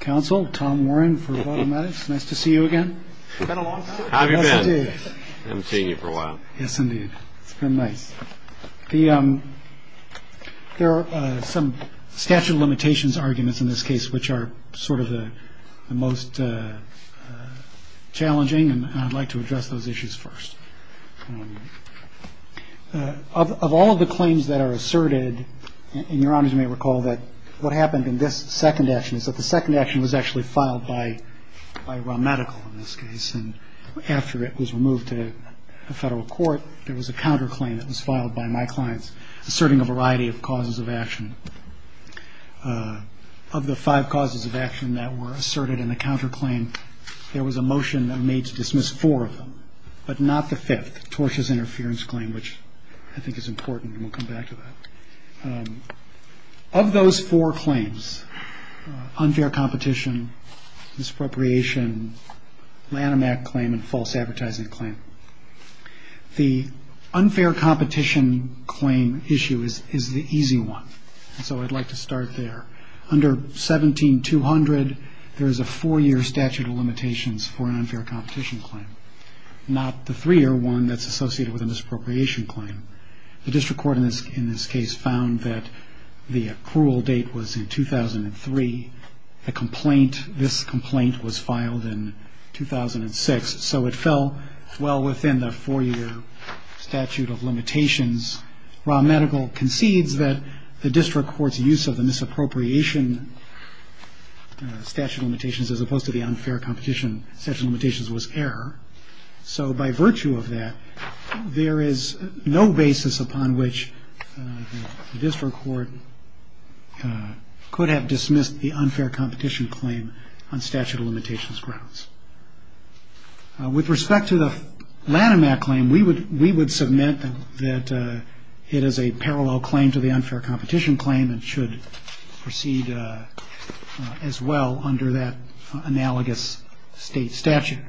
Counsel, Tom Warren for PhotoMedex. Nice to see you again. It's been a long time. How have you been? Yes, indeed. I haven't seen you for a while. Yes, indeed. It's been nice. There are some statute of limitations arguments in this case which are sort of the most challenging, and I'd like to address those issues first. Of all of the claims that are asserted, and Your Honors may recall that what happened in this second action is that the second action was actually filed by Raw Medical in this case, and after it was removed to a federal court, there was a counterclaim that was filed by my clients asserting a variety of causes of action. Of the five causes of action that were asserted in the counterclaim, there was a motion that made to dismiss four of them, but not the fifth, Torsh's Interference Claim, which I think is important, and we'll come back to that. Of those four claims, unfair competition, misappropriation, Lanham Act claim, and false advertising claim, the unfair competition claim issue is the easy one, so I'd like to start there. Under 17-200, there is a four-year statute of limitations for an unfair competition claim, not the three-year one that's associated with a misappropriation claim. The district court in this case found that the approval date was in 2003. The complaint, this complaint was filed in 2006, so it fell well within the four-year statute of limitations. Raw Medical concedes that the district court's use of the misappropriation statute of limitations as opposed to the unfair competition statute of limitations was error, so by virtue of that, there is no basis upon which the district court could have dismissed the unfair competition claim on statute of limitations grounds. With respect to the Lanham Act claim, we would submit that it is a parallel claim to the unfair competition claim and should proceed as well under that analogous state statute.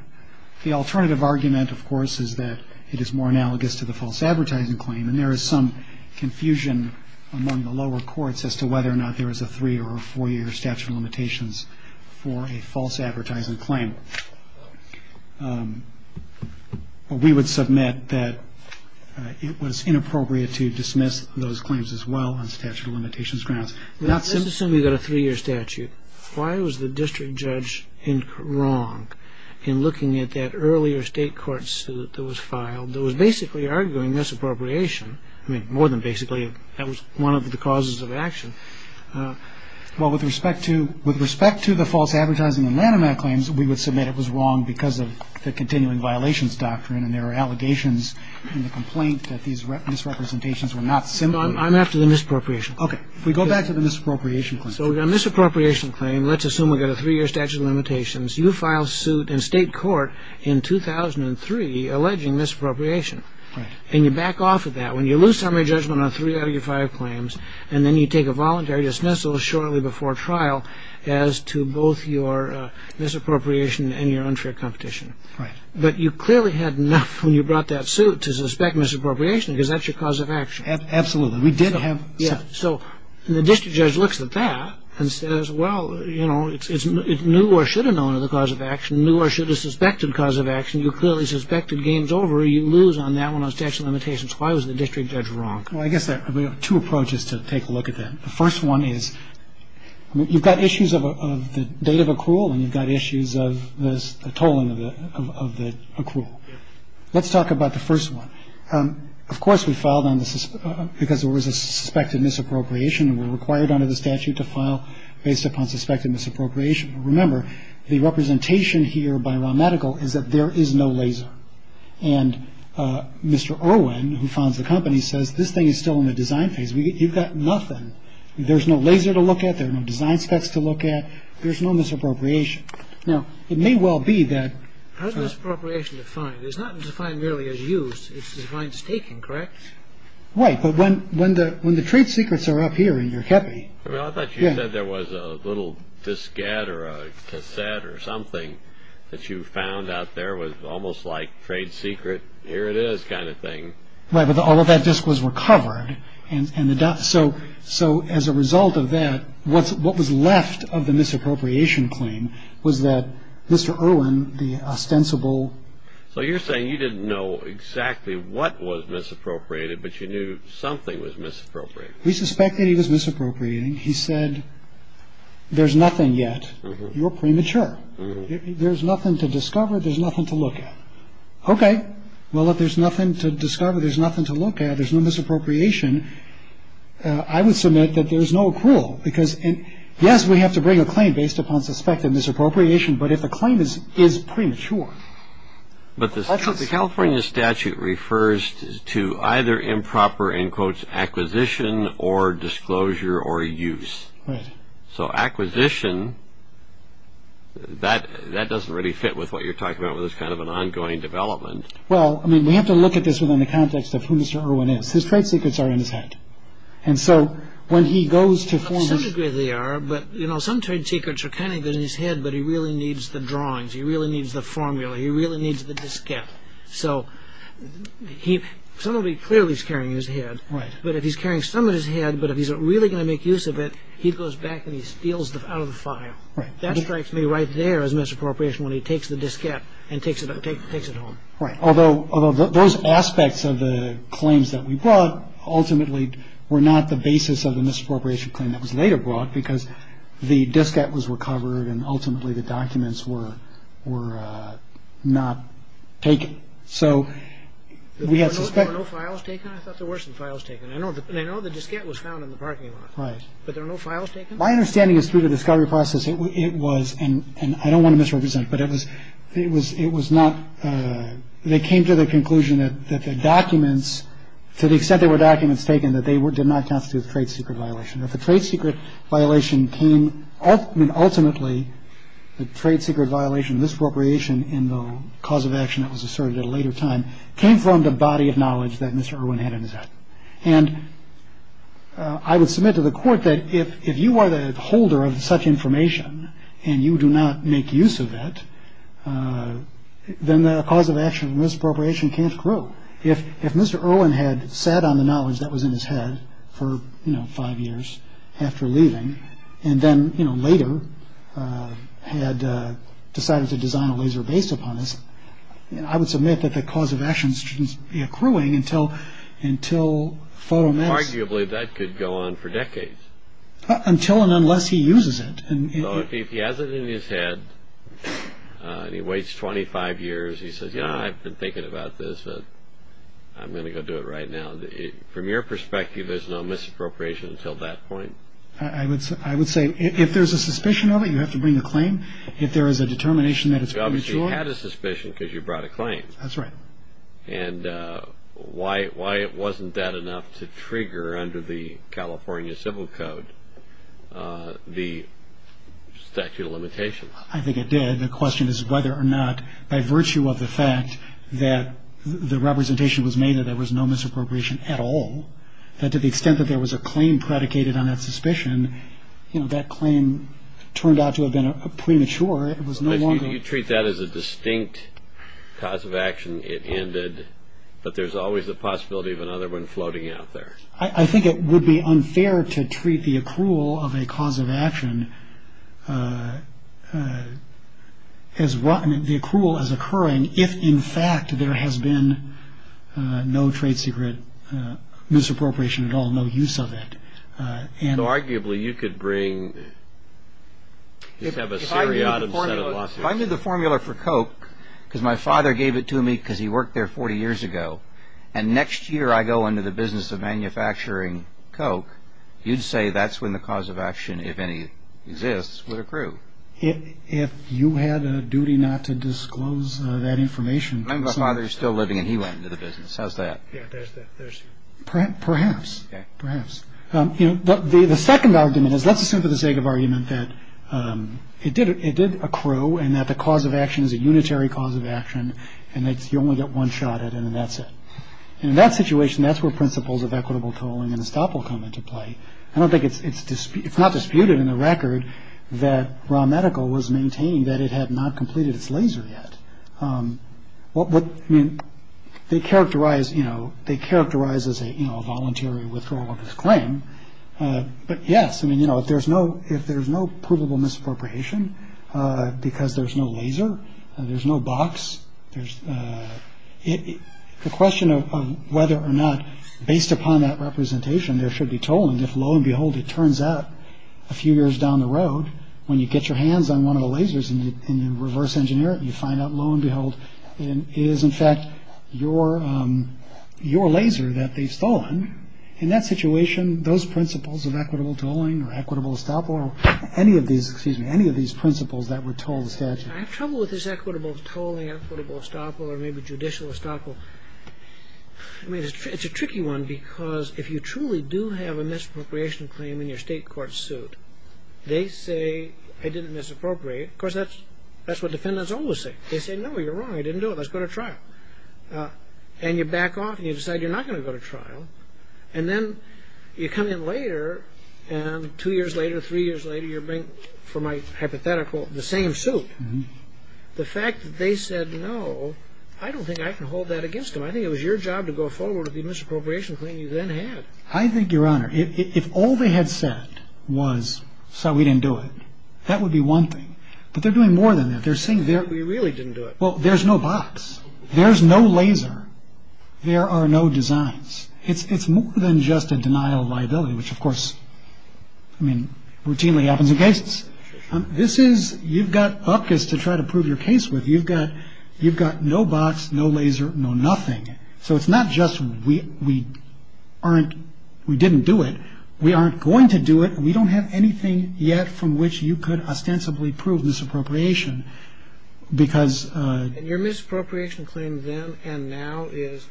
The alternative argument, of course, is that it is more analogous to the false advertising claim, and there is some confusion among the lower courts as to whether or not there is a three- or a four-year statute of limitations for a false advertising claim. We would submit that it was inappropriate to dismiss those claims as well on statute of limitations grounds. We've got a three-year statute. Why was the district judge wrong in looking at that earlier state court suit that was filed that was basically arguing misappropriation? I mean, more than basically, that was one of the causes of action. Well, with respect to the false advertising and Lanham Act claims, we would submit it was wrong because of the continuing violations doctrine, and there are allegations in the complaint that these misrepresentations were not simple. I'm after the misappropriation. Okay. If we go back to the misappropriation claim. So we've got a misappropriation claim. Let's assume we've got a three-year statute of limitations. You filed suit in state court in 2003 alleging misappropriation, and you back off of that. When you lose summary judgment on three out of your five claims, and then you take a voluntary dismissal shortly before trial as to both your misappropriation and your unfair competition. Right. But you clearly had enough when you brought that suit to suspect misappropriation because that's your cause of action. Absolutely. We did have some. So the district judge looks at that and says, well, you know, it's new or should have known of the cause of action, new or should have suspected cause of action. You clearly suspected gains over. You lose on that one on statute of limitations. Why was the district judge wrong? Well, I guess there are two approaches to take a look at that. The first one is you've got issues of the date of accrual, and you've got issues of the tolling of the accrual. Let's talk about the first one. Of course, we filed on this because there was a suspected misappropriation and were required under the statute to file based upon suspected misappropriation. Remember, the representation here by Raw Medical is that there is no laser. And Mr. Irwin, who funds the company, says this thing is still in the design phase. You've got nothing. There's no laser to look at. There are no design specs to look at. There's no misappropriation. Now, it may well be that. How is misappropriation defined? It's not defined merely as used. It's defined as taken, correct? Right, but when the trade secrets are up here in your company. I thought you said there was a little diskette or a cassette or something that you found out there was almost like trade secret, here it is kind of thing. Right, but all of that disk was recovered. So as a result of that, what was left of the misappropriation claim was that Mr. Irwin, the ostensible. So you're saying you didn't know exactly what was misappropriated, but you knew something was misappropriated. We suspected he was misappropriating. He said there's nothing yet. You're premature. There's nothing to discover. There's nothing to look at. Okay. Well, if there's nothing to discover, there's nothing to look at, there's no misappropriation. I would submit that there's no accrual because, yes, we have to bring a claim based upon suspected misappropriation. But if a claim is premature. But the California statute refers to either improper, in quotes, acquisition or disclosure or use. Right. So acquisition, that doesn't really fit with what you're talking about with this kind of an ongoing development. Well, I mean, we have to look at this within the context of who Mr. Irwin is. His trade secrets are in his head. And so when he goes to form a... He really needs the drawings. He really needs the formula. He really needs the diskette. So somebody clearly is carrying his head. Right. But if he's carrying some of his head, but if he's really going to make use of it, he goes back and he steals it out of the file. Right. That strikes me right there as misappropriation when he takes the diskette and takes it home. Right. Although those aspects of the claims that we brought ultimately were not the basis of the misappropriation claim that was later brought because the diskette was recovered and ultimately the documents were not taken. So we had suspect... There were no files taken? I thought there were some files taken. I know the diskette was found in the parking lot. Right. But there are no files taken? My understanding is through the discovery process, it was... And I don't want to misrepresent, but it was... It was not... They came to the conclusion that the documents, to the extent there were documents taken, that they did not constitute a trade secret violation. If a trade secret violation came, then ultimately the trade secret violation, misappropriation in the cause of action that was asserted at a later time, came from the body of knowledge that Mr. Irwin had in his head. And I would submit to the court that if you are the holder of such information and you do not make use of it, then the cause of action of misappropriation can't grow. If Mr. Irwin had sat on the knowledge that was in his head for five years after leaving and then later had decided to design a laser based upon this, I would submit that the cause of action shouldn't be accruing until photomedicine... Arguably, that could go on for decades. Until and unless he uses it. So if he has it in his head and he waits 25 years, he says, you know, I've been thinking about this, but I'm going to go do it right now. From your perspective, there's no misappropriation until that point? I would say if there's a suspicion of it, you have to bring a claim. If there is a determination that it's premature... You obviously had a suspicion because you brought a claim. That's right. And why wasn't that enough to trigger under the California Civil Code the statute of limitations? I think it did. The question is whether or not, by virtue of the fact that the representation was made that there was no misappropriation at all, that to the extent that there was a claim predicated on that suspicion, that claim turned out to have been premature. It was no longer... You treat that as a distinct cause of action. It ended, but there's always the possibility of another one floating out there. I think it would be unfair to treat the accrual of a cause of action, the accrual as occurring, if in fact there has been no trade secret misappropriation at all, no use of it. Arguably, you could bring... If I knew the formula for Coke, because my father gave it to me because he worked there 40 years ago, and next year I go into the business of manufacturing Coke, you'd say that's when the cause of action, if any, exists with accrual. If you had a duty not to disclose that information... My father's still living, and he went into the business. How's that? Yeah, there's... Perhaps. Okay. Perhaps. The second argument is, let's assume for the sake of argument that it did accrue and that the cause of action is a unitary cause of action, and you only get one shot at it, and that's it. And in that situation, that's where principles of equitable tolling and estoppel come into play. I don't think it's... It's not disputed in the record that Raw Medical was maintaining that it had not completed its laser yet. What... I mean, they characterize... You know, they characterize as a voluntary withdrawal of this claim. But yes, I mean, you know, if there's no... Because there's no laser, there's no box, there's... The question of whether or not, based upon that representation, there should be tolling, if, lo and behold, it turns out a few years down the road, when you get your hands on one of the lasers in the reverse engineering, you find out, lo and behold, it is, in fact, your laser that they've stolen, in that situation, those principles of equitable tolling or equitable estoppel or any of these, excuse me, any of these principles that were tolled in the statute. I have trouble with this equitable tolling, equitable estoppel, or maybe judicial estoppel. I mean, it's a tricky one because if you truly do have a misappropriation claim in your state court suit, they say, I didn't misappropriate. Of course, that's what defendants always say. They say, no, you're wrong. I didn't do it. Let's go to trial. And you back off and you decide you're not going to go to trial. And then you come in later, and two years later, three years later, you bring, for my hypothetical, the same suit. The fact that they said, no, I don't think I can hold that against them. I think it was your job to go forward with the misappropriation claim you then had. I think, Your Honor, if all they had said was, so we didn't do it, that would be one thing. But they're doing more than that. They're saying, we really didn't do it. Well, there's no box. There's no laser. There are no designs. It's more than just a denial of liability, which, of course, I mean, routinely happens in cases. This is, you've got up to try to prove your case with. You've got no box, no laser, no nothing. So it's not just we aren't, we didn't do it. We aren't going to do it. We don't have anything yet from which you could ostensibly prove misappropriation. And your misappropriation claim then and now is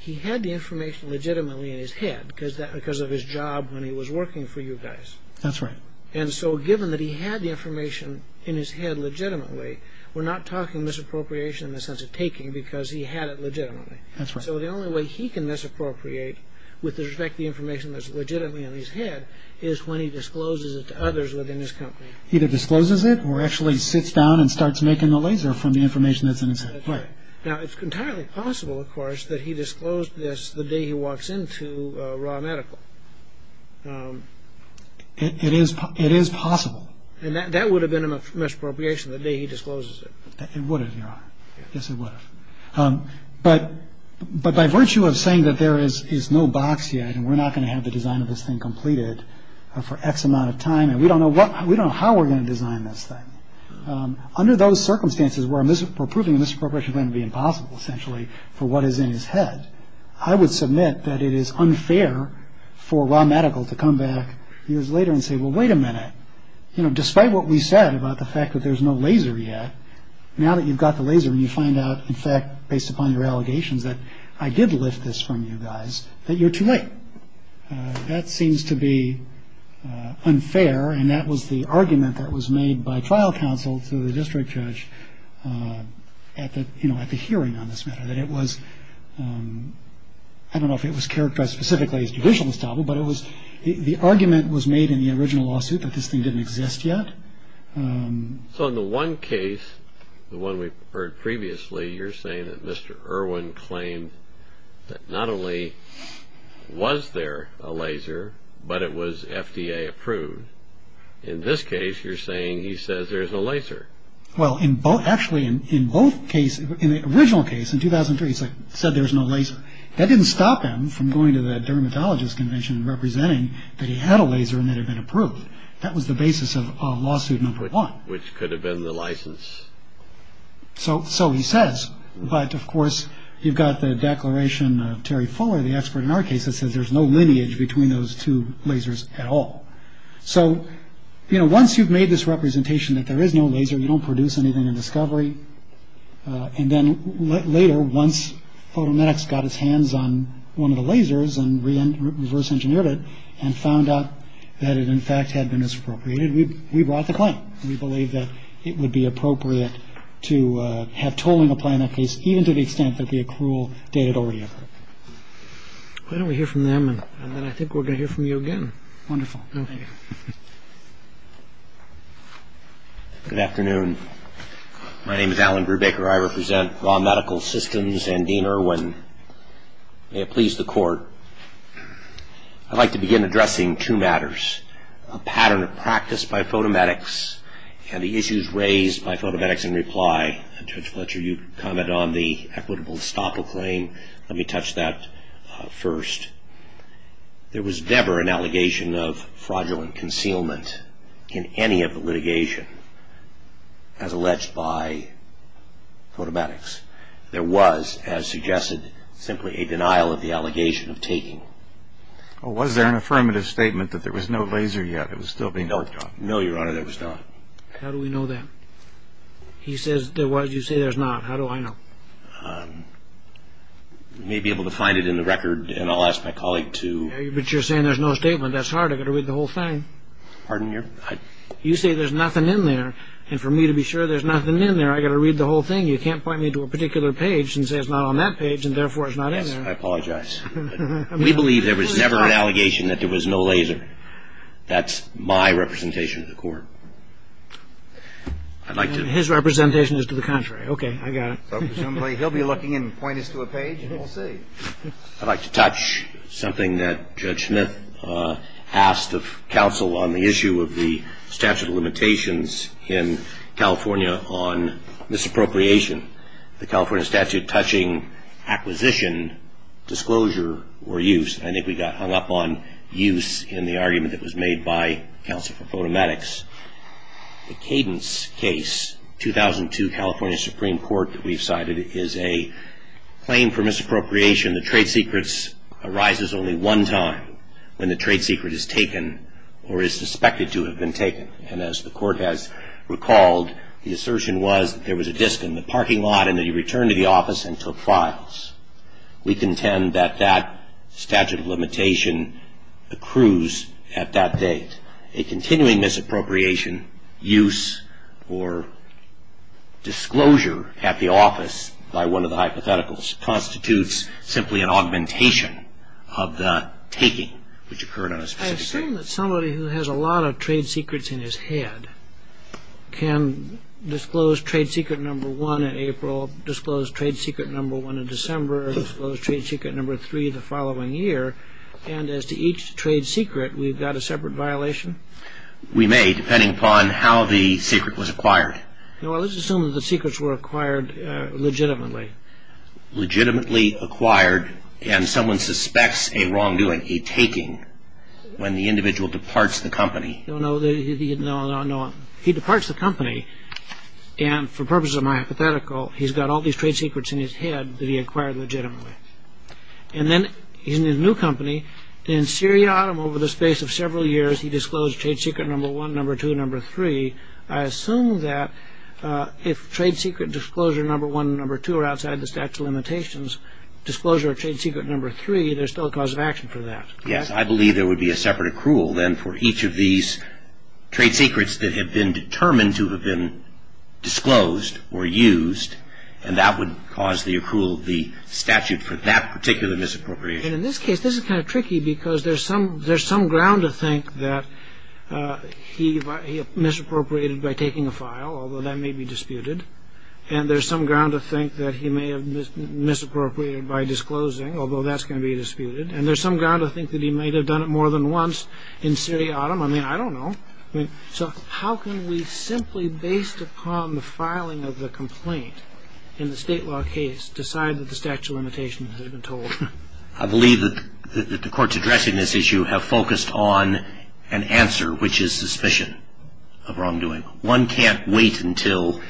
he had the information legitimately in his head because of his job when he was working for you guys. That's right. And so given that he had the information in his head legitimately, we're not talking misappropriation in the sense of taking because he had it legitimately. That's right. So the only way he can misappropriate with respect to the information that's legitimately in his head is when he discloses it to others within his company. Either discloses it or actually sits down and starts making the laser from the information that's in his head. Now, it's entirely possible, of course, that he disclosed this the day he walks into raw medical. It is. It is possible. And that would have been a misappropriation the day he discloses it. It would have. Yes, it would. But but by virtue of saying that there is is no box yet and we're not going to have the design of this thing completed for X amount of time. And we don't know what we don't how we're going to design this thing. Under those circumstances where I'm just approving misappropriation going to be impossible essentially for what is in his head. I would submit that it is unfair for raw medical to come back years later and say, well, wait a minute. Despite what we said about the fact that there's no laser yet. Now that you've got the laser and you find out, in fact, based upon your allegations that I did lift this from you guys, that you're too late. That seems to be unfair. And that was the argument that was made by trial counsel to the district judge at the you know, at the hearing on this matter, that it was. I don't know if it was characterized specifically as judicial establishment, but it was the argument was made in the original lawsuit that this thing didn't exist yet. So in the one case, the one we heard previously, you're saying that Mr. Irwin claimed that not only was there a laser, but it was FDA approved. In this case, you're saying he says there's a laser. Well, in both actually in both cases, in the original case in 2003, he said there's no laser. That didn't stop him from going to the dermatologist convention and representing that he had a laser and it had been approved. That was the basis of lawsuit number one, which could have been the license. So. So he says. But of course, you've got the declaration of Terry Fuller, the expert in our case that says there's no lineage between those two lasers at all. So, you know, once you've made this representation that there is no laser, you don't produce anything in discovery. And then later, once photometrics got his hands on one of the lasers and reverse engineered it and found out that it, in fact, had been appropriated, we brought the claim. We believe that it would be appropriate to have tolling apply in that case, even to the extent that the accrual dated already. Why don't we hear from them? And then I think we're going to hear from you again. Wonderful. Thank you. Good afternoon. My name is Alan Brubaker. I represent Raw Medical Systems and Dean Irwin. May it please the court. I'd like to begin addressing two matters. A pattern of practice by photometrics and the issues raised by photometrics in reply. Judge Fletcher, you comment on the equitable estoppel claim. Let me touch that first. There was never an allegation of fraudulent concealment in any of the litigation as alleged by photometrics. There was, as suggested, simply a denial of the allegation of taking. Was there an affirmative statement that there was no laser yet? It was still being worked on. No, Your Honor, there was not. How do we know that? He says there was. You say there's not. How do I know? You may be able to find it in the record, and I'll ask my colleague to. But you're saying there's no statement. That's hard. I've got to read the whole thing. Pardon me? You say there's nothing in there, and for me to be sure there's nothing in there, I've got to read the whole thing. You can't point me to a particular page and say it's not on that page and therefore it's not in there. Yes, I apologize. We believe there was never an allegation that there was no laser. That's my representation to the court. I'd like to. His representation is to the contrary. Okay, I got it. Presumably he'll be looking and point us to a page and we'll see. I'd like to touch something that Judge Smith asked of counsel on the issue of the statute of limitations in California on misappropriation. The California statute touching acquisition, disclosure, or use. I think we got hung up on use in the argument that was made by counsel for photometrics. The Cadence case, 2002 California Supreme Court that we've cited, is a claim for misappropriation. The trade secret arises only one time when the trade secret is taken or is suspected to have been taken. And as the court has recalled, the assertion was that there was a disk in the parking lot and that he returned to the office and took files. We contend that that statute of limitation accrues at that date. And a continuing misappropriation, use, or disclosure at the office by one of the hypotheticals constitutes simply an augmentation of the taking which occurred on a specific day. I assume that somebody who has a lot of trade secrets in his head can disclose trade secret number one in April, disclose trade secret number one in December, disclose trade secret number three the following year. And as to each trade secret, we've got a separate violation? We may, depending upon how the secret was acquired. Well, let's assume that the secrets were acquired legitimately. Legitimately acquired and someone suspects a wrongdoing, a taking, when the individual departs the company. No, no. He departs the company. And for purposes of my hypothetical, he's got all these trade secrets in his head that he acquired legitimately. And then he's in a new company. In Syria, over the space of several years, he disclosed trade secret number one, number two, number three. I assume that if trade secret disclosure number one and number two are outside the statute of limitations, disclosure of trade secret number three, there's still a cause of action for that. Yes, I believe there would be a separate accrual then for each of these trade secrets that have been determined to have been disclosed or used. And that would cause the accrual of the statute for that particular misappropriation. In this case, this is kind of tricky because there's some ground to think that he misappropriated by taking a file, although that may be disputed. And there's some ground to think that he may have misappropriated by disclosing, although that's going to be disputed. And there's some ground to think that he may have done it more than once in Syria. I mean, I don't know. So how can we simply, based upon the filing of the complaint in the state law case, decide that the statute of limitations has been told? I believe that the courts addressing this issue have focused on an answer, which is suspicion of wrongdoing. One can't wait until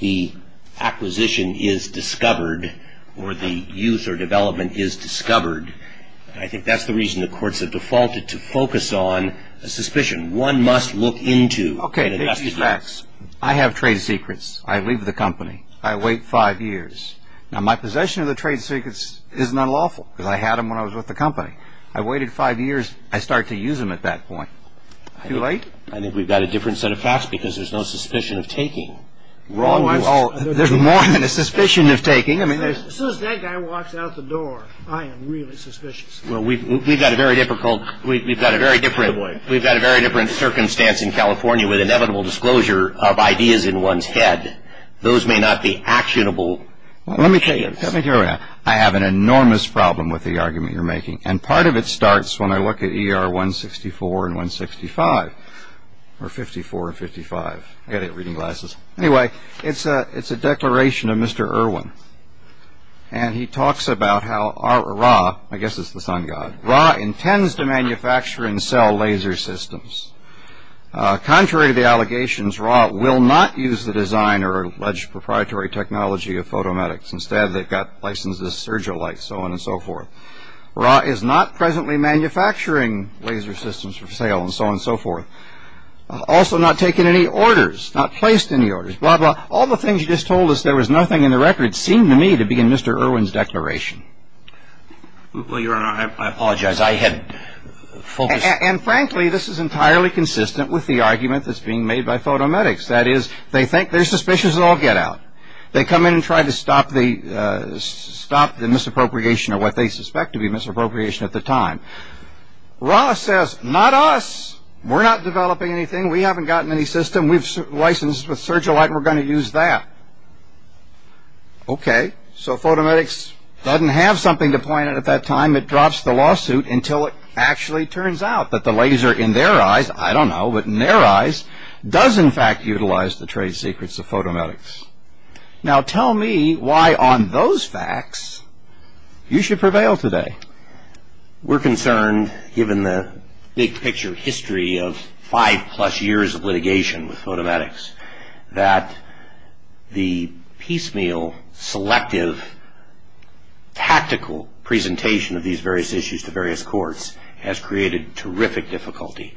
the acquisition is discovered or the use or development is discovered. I think that's the reason the courts have defaulted to focus on a suspicion. One must look into the dispute. I have trade secrets. I leave the company. I wait five years. Now, my possession of the trade secrets is not lawful because I had them when I was with the company. I waited five years. I start to use them at that point. Too late? I think we've got a different set of facts because there's no suspicion of taking. There's more than a suspicion of taking. As soon as that guy walks out the door, I am really suspicious. We've got a very different circumstance in California with inevitable disclosure of ideas in one's head. Those may not be actionable. Let me tell you, I have an enormous problem with the argument you're making, and part of it starts when I look at ER 164 and 165, or 54 and 55. I've got to get reading glasses. Anyway, it's a declaration of Mr. Irwin. He talks about how RAA, I guess it's the sun god, RAA intends to manufacture and sell laser systems. Contrary to the allegations, RAA will not use the design or alleged proprietary technology of Photomedics. Instead, they've got licenses, Surgilite, so on and so forth. RAA is not presently manufacturing laser systems for sale and so on and so forth. Also not taking any orders, not placed any orders, blah, blah. All the things you just told us there was nothing in the record seem to me to be in Mr. Irwin's declaration. Well, Your Honor, I apologize. I had focused. And frankly, this is entirely consistent with the argument that's being made by Photomedics. That is, they think they're suspicious of all get-out. They come in and try to stop the misappropriation of what they suspect to be misappropriation at the time. RAA says, not us. We're not developing anything. We haven't gotten any system. We've licensed with Surgilite and we're going to use that. Okay. So Photomedics doesn't have something to point at at that time. It drops the lawsuit until it actually turns out that the laser in their eyes, I don't know, but in their eyes does in fact utilize the trade secrets of Photomedics. Now tell me why on those facts you should prevail today. We're concerned, given the big-picture history of five-plus years of litigation with Photomedics, that the piecemeal, selective, tactical presentation of these various issues to various courts has created terrific difficulty.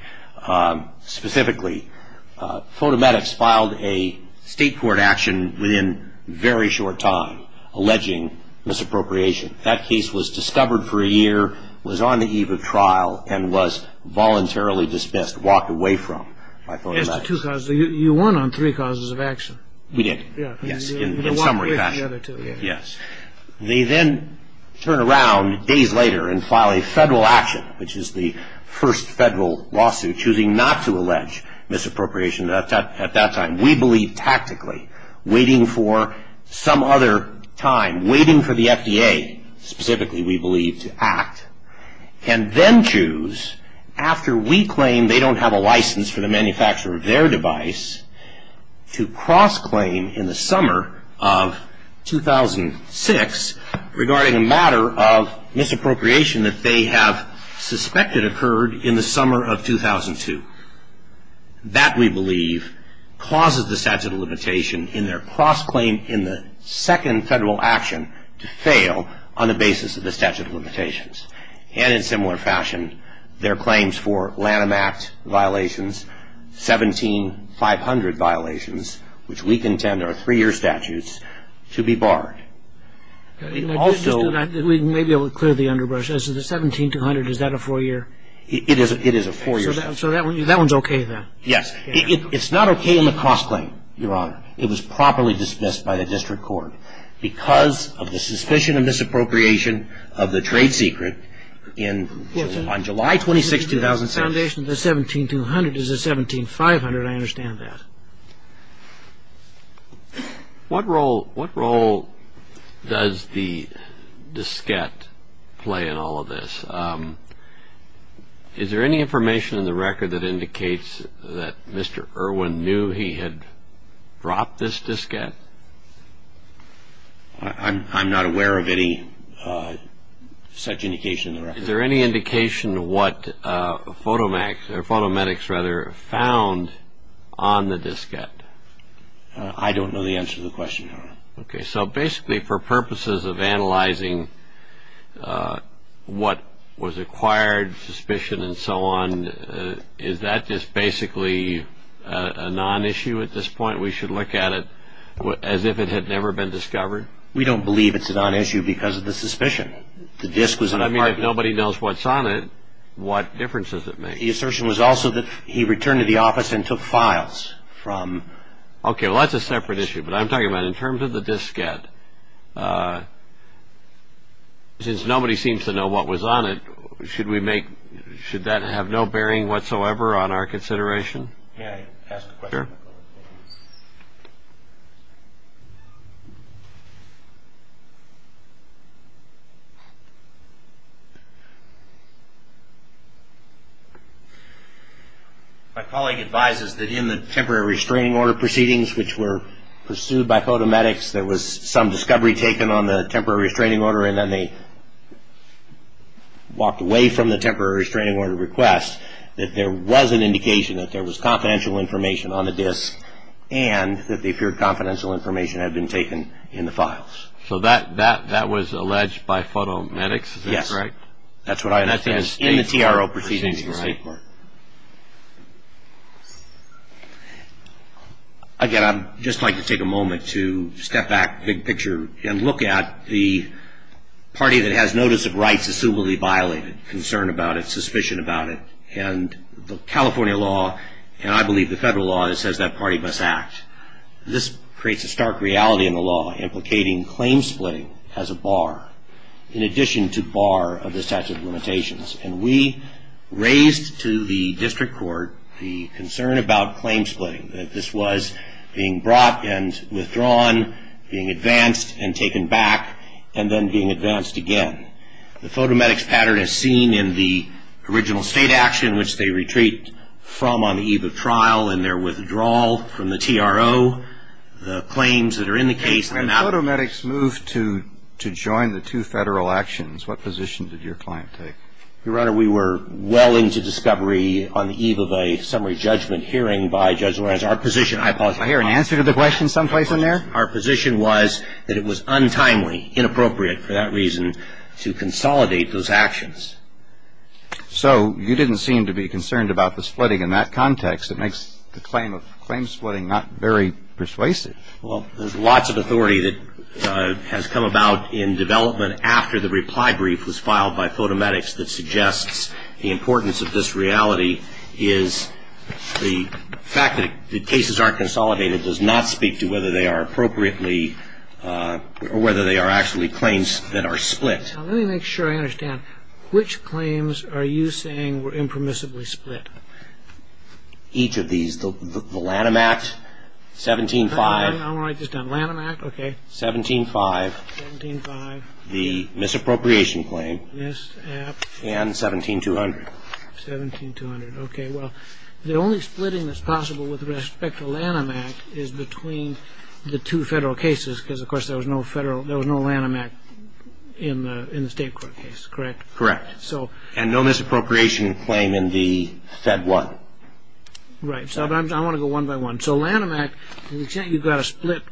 Specifically, Photomedics filed a state court action within very short time alleging misappropriation. That case was discovered for a year, was on the eve of trial, and was voluntarily dismissed, walked away from by Photomedics. You won on three causes of action. We did, yes, in summary fashion. Yes. They then turn around days later and file a federal action, which is the first federal lawsuit choosing not to allege misappropriation at that time. And we believe tactically waiting for some other time, waiting for the FDA, specifically we believe to act, can then choose after we claim they don't have a license for the manufacture of their device to cross-claim in the summer of 2006 regarding a matter of misappropriation that they have suspected occurred in the summer of 2002. That, we believe, causes the statute of limitation in their cross-claim in the second federal action to fail on the basis of the statute of limitations. And in similar fashion, their claims for Lanham Act violations, 17500 violations, which we contend are three-year statutes, to be barred. We may be able to clear the underbrush. The 17200, is that a four-year? It is a four-year statute. So that one's okay then? Yes. It's not okay in the cross-claim, Your Honor. It was properly dismissed by the district court because of the suspicion of misappropriation of the trade secret on July 26, 2006. The foundation of the 17200 is the 17500. I understand that. What role does the diskette play in all of this? Is there any information in the record that indicates that Mr. Irwin knew he had dropped this diskette? I'm not aware of any such indication in the record. Is there any indication of what photometrics found on the diskette? I don't know the answer to the question, Your Honor. Okay. So basically for purposes of analyzing what was acquired, suspicion and so on, is that just basically a non-issue at this point? We should look at it as if it had never been discovered? We don't believe it's a non-issue because of the suspicion. I mean, if nobody knows what's on it, what difference does it make? The assertion was also that he returned to the office and took files from the office. Okay. Well, that's a separate issue, but I'm talking about in terms of the diskette, since nobody seems to know what was on it, should that have no bearing whatsoever on our consideration? May I ask a question? Sure. My colleague advises that in the temporary restraining order proceedings, which were pursued by photometrics, there was some discovery taken on the temporary restraining order and then they walked away from the temporary restraining order request, that there was an indication that there was confidential information on the disk and that they feared confidential information had been taken in the files. So that was alleged by photometrics? Yes. Is that correct? That's what I understand. In the TRO proceedings in the state court. Again, I'd just like to take a moment to step back big picture and look at the party that has notice of rights assumably violated, concern about it, suspicion about it, and the California law, and I believe the federal law, that says that party must act. This creates a stark reality in the law implicating claim splitting as a bar, in addition to bar of the statute of limitations. And we raised to the district court the concern about claim splitting, that this was being brought and withdrawn, being advanced and taken back, and then being advanced again. The photometrics pattern is seen in the original state action, which they retreat from on the eve of trial, and their withdrawal from the TRO, the claims that are in the case. When the photometrics moved to join the two federal actions, what position did your client take? Your Honor, we were well into discovery on the eve of a summary judgment hearing by Judge Lorenz. Our position, I apologize. I hear an answer to the question someplace in there. Our position was that it was untimely, inappropriate for that reason, to consolidate those actions. So you didn't seem to be concerned about the splitting in that context. It makes the claim of claim splitting not very persuasive. Well, there's lots of authority that has come about in development after the reply brief was filed by photometrics that suggests the importance of this reality is the fact that the cases aren't consolidated does not speak to whether they are appropriately or whether they are actually claims that are split. Let me make sure I understand. Which claims are you saying were impermissibly split? Each of these. The Lanham Act, 17-5. I want to write this down. Lanham Act, okay. 17-5. 17-5. The misappropriation claim. Misapp. And 17-200. 17-200, okay. Well, the only splitting that's possible with respect to Lanham Act is between the two federal cases because, of course, there was no Lanham Act in the state court case, correct? Correct. And no misappropriation claim in the Fed one. Right. So I want to go one by one. So Lanham Act, you've got a split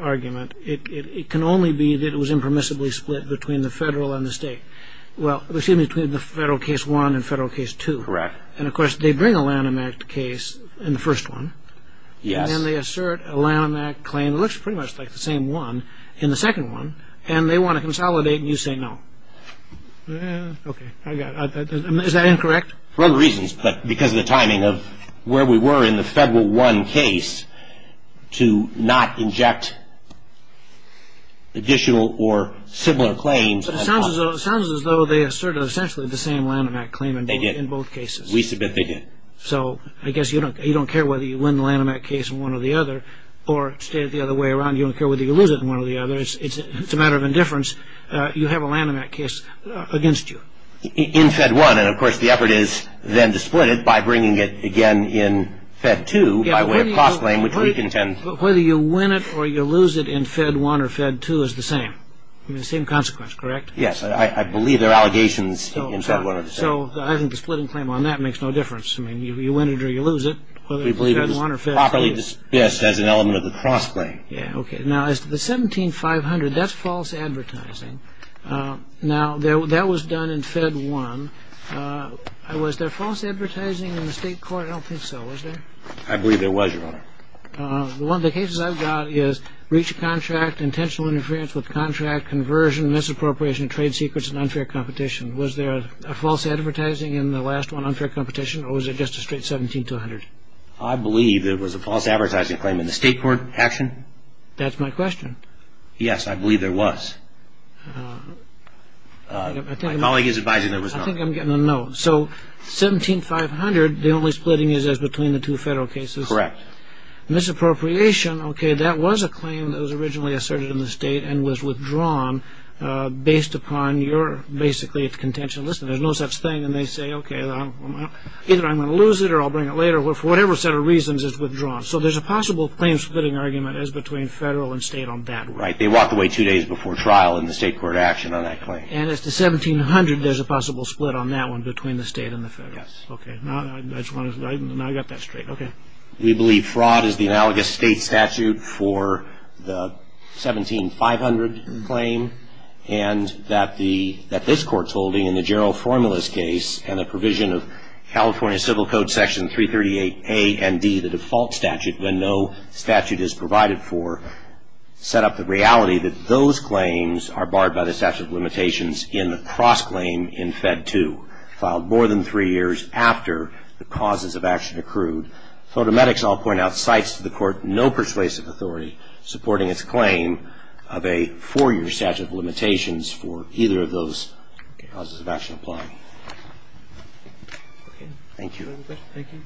argument. It can only be that it was impermissibly split between the federal and the state. Well, excuse me, between the federal case one and federal case two. Correct. And, of course, they bring a Lanham Act case in the first one. Yes. And then they assert a Lanham Act claim that looks pretty much like the same one in the second one, and they want to consolidate, and you say no. Okay, I got it. Is that incorrect? For other reasons, but because of the timing of where we were in the federal one case to not inject additional or similar claims. It sounds as though they asserted essentially the same Lanham Act claim in both cases. We submit they did. So I guess you don't care whether you win the Lanham Act case in one or the other or stay it the other way around. You don't care whether you lose it in one or the other. It's a matter of indifference. You have a Lanham Act case against you. In Fed one, and, of course, the effort is then to split it by bringing it again in Fed two by way of cost claim, which we contend. Whether you win it or you lose it in Fed one or Fed two is the same. The same consequence, correct? Yes. I believe there are allegations in Fed one or Fed two. So I think the splitting claim on that makes no difference. I mean, you win it or you lose it, whether it's Fed one or Fed two. We believe it's properly dismissed as an element of the cost claim. Okay. Now, as to the 17500, that's false advertising. Now, that was done in Fed one. Was there false advertising in the state court? I don't think so. Was there? I believe there was, Your Honor. One of the cases I've got is breach of contract, intentional interference with contract, conversion, misappropriation, trade secrets, and unfair competition. Was there a false advertising in the last one, unfair competition, or was it just a straight 17200? I believe it was a false advertising claim in the state court action. That's my question. Yes, I believe there was. My colleague is advising there was none. I think I'm getting a no. So 17500, the only splitting is as between the two federal cases? Correct. Misappropriation, okay, that was a claim that was originally asserted in the state and was withdrawn based upon your basically contention. Listen, there's no such thing. And they say, okay, either I'm going to lose it or I'll bring it later. For whatever set of reasons, it's withdrawn. So there's a possible claim-splitting argument as between federal and state on that one. Right. They walked away two days before trial in the state court action on that claim. And as to 1700, there's a possible split on that one between the state and the federal. Yes. Okay. Now I got that straight. Okay. We believe fraud is the analogous state statute for the 17500 claim, and that this Court's holding in the general formulas case and the provision of California Civil Code Section 338A and D, the default statute, when no statute is provided for, set up the reality that those claims are barred by the statute of limitations in the cross-claim in Fed 2, filed more than three years after the causes of action accrued. FOTAMEDICS, I'll point out, cites to the Court no persuasive authority supporting its claim of a four-year statute of limitations for either of those causes of action applying. Okay. Thank you. Thank you.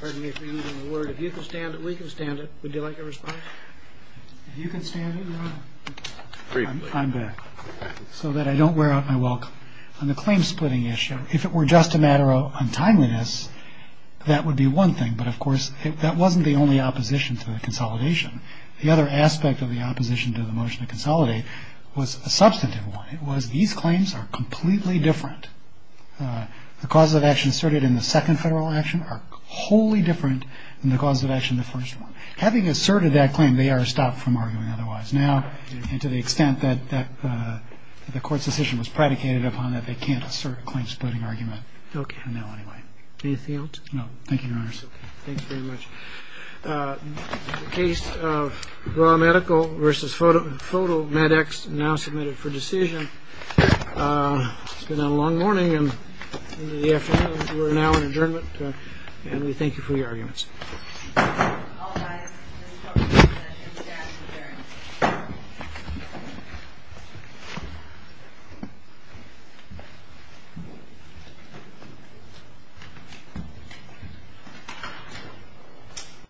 Pardon me for using the word. If you can stand it, we can stand it. Would you like a response? If you can stand it, we're all right. I'm good. So that I don't wear out my welcome. On the claim-splitting issue, if it were just a matter of untimeliness, that would be one thing. But, of course, that wasn't the only opposition to the consolidation. The other aspect of the opposition to the motion to consolidate was a substantive one. It was these claims are completely different. The causes of action asserted in the second Federal action are wholly different than the causes of action in the first one. Having asserted that claim, they are stopped from arguing otherwise now, and to the extent that the Court's decision was predicated upon that, they can't assert a claim-splitting argument now anyway. Okay. Anything else? No. Thank you, Your Honors. Okay. Thanks very much. The case of raw medical versus photomedics now submitted for decision. It's been a long morning and the afternoon. We're now in adjournment. And we thank you for your arguments. Thank you.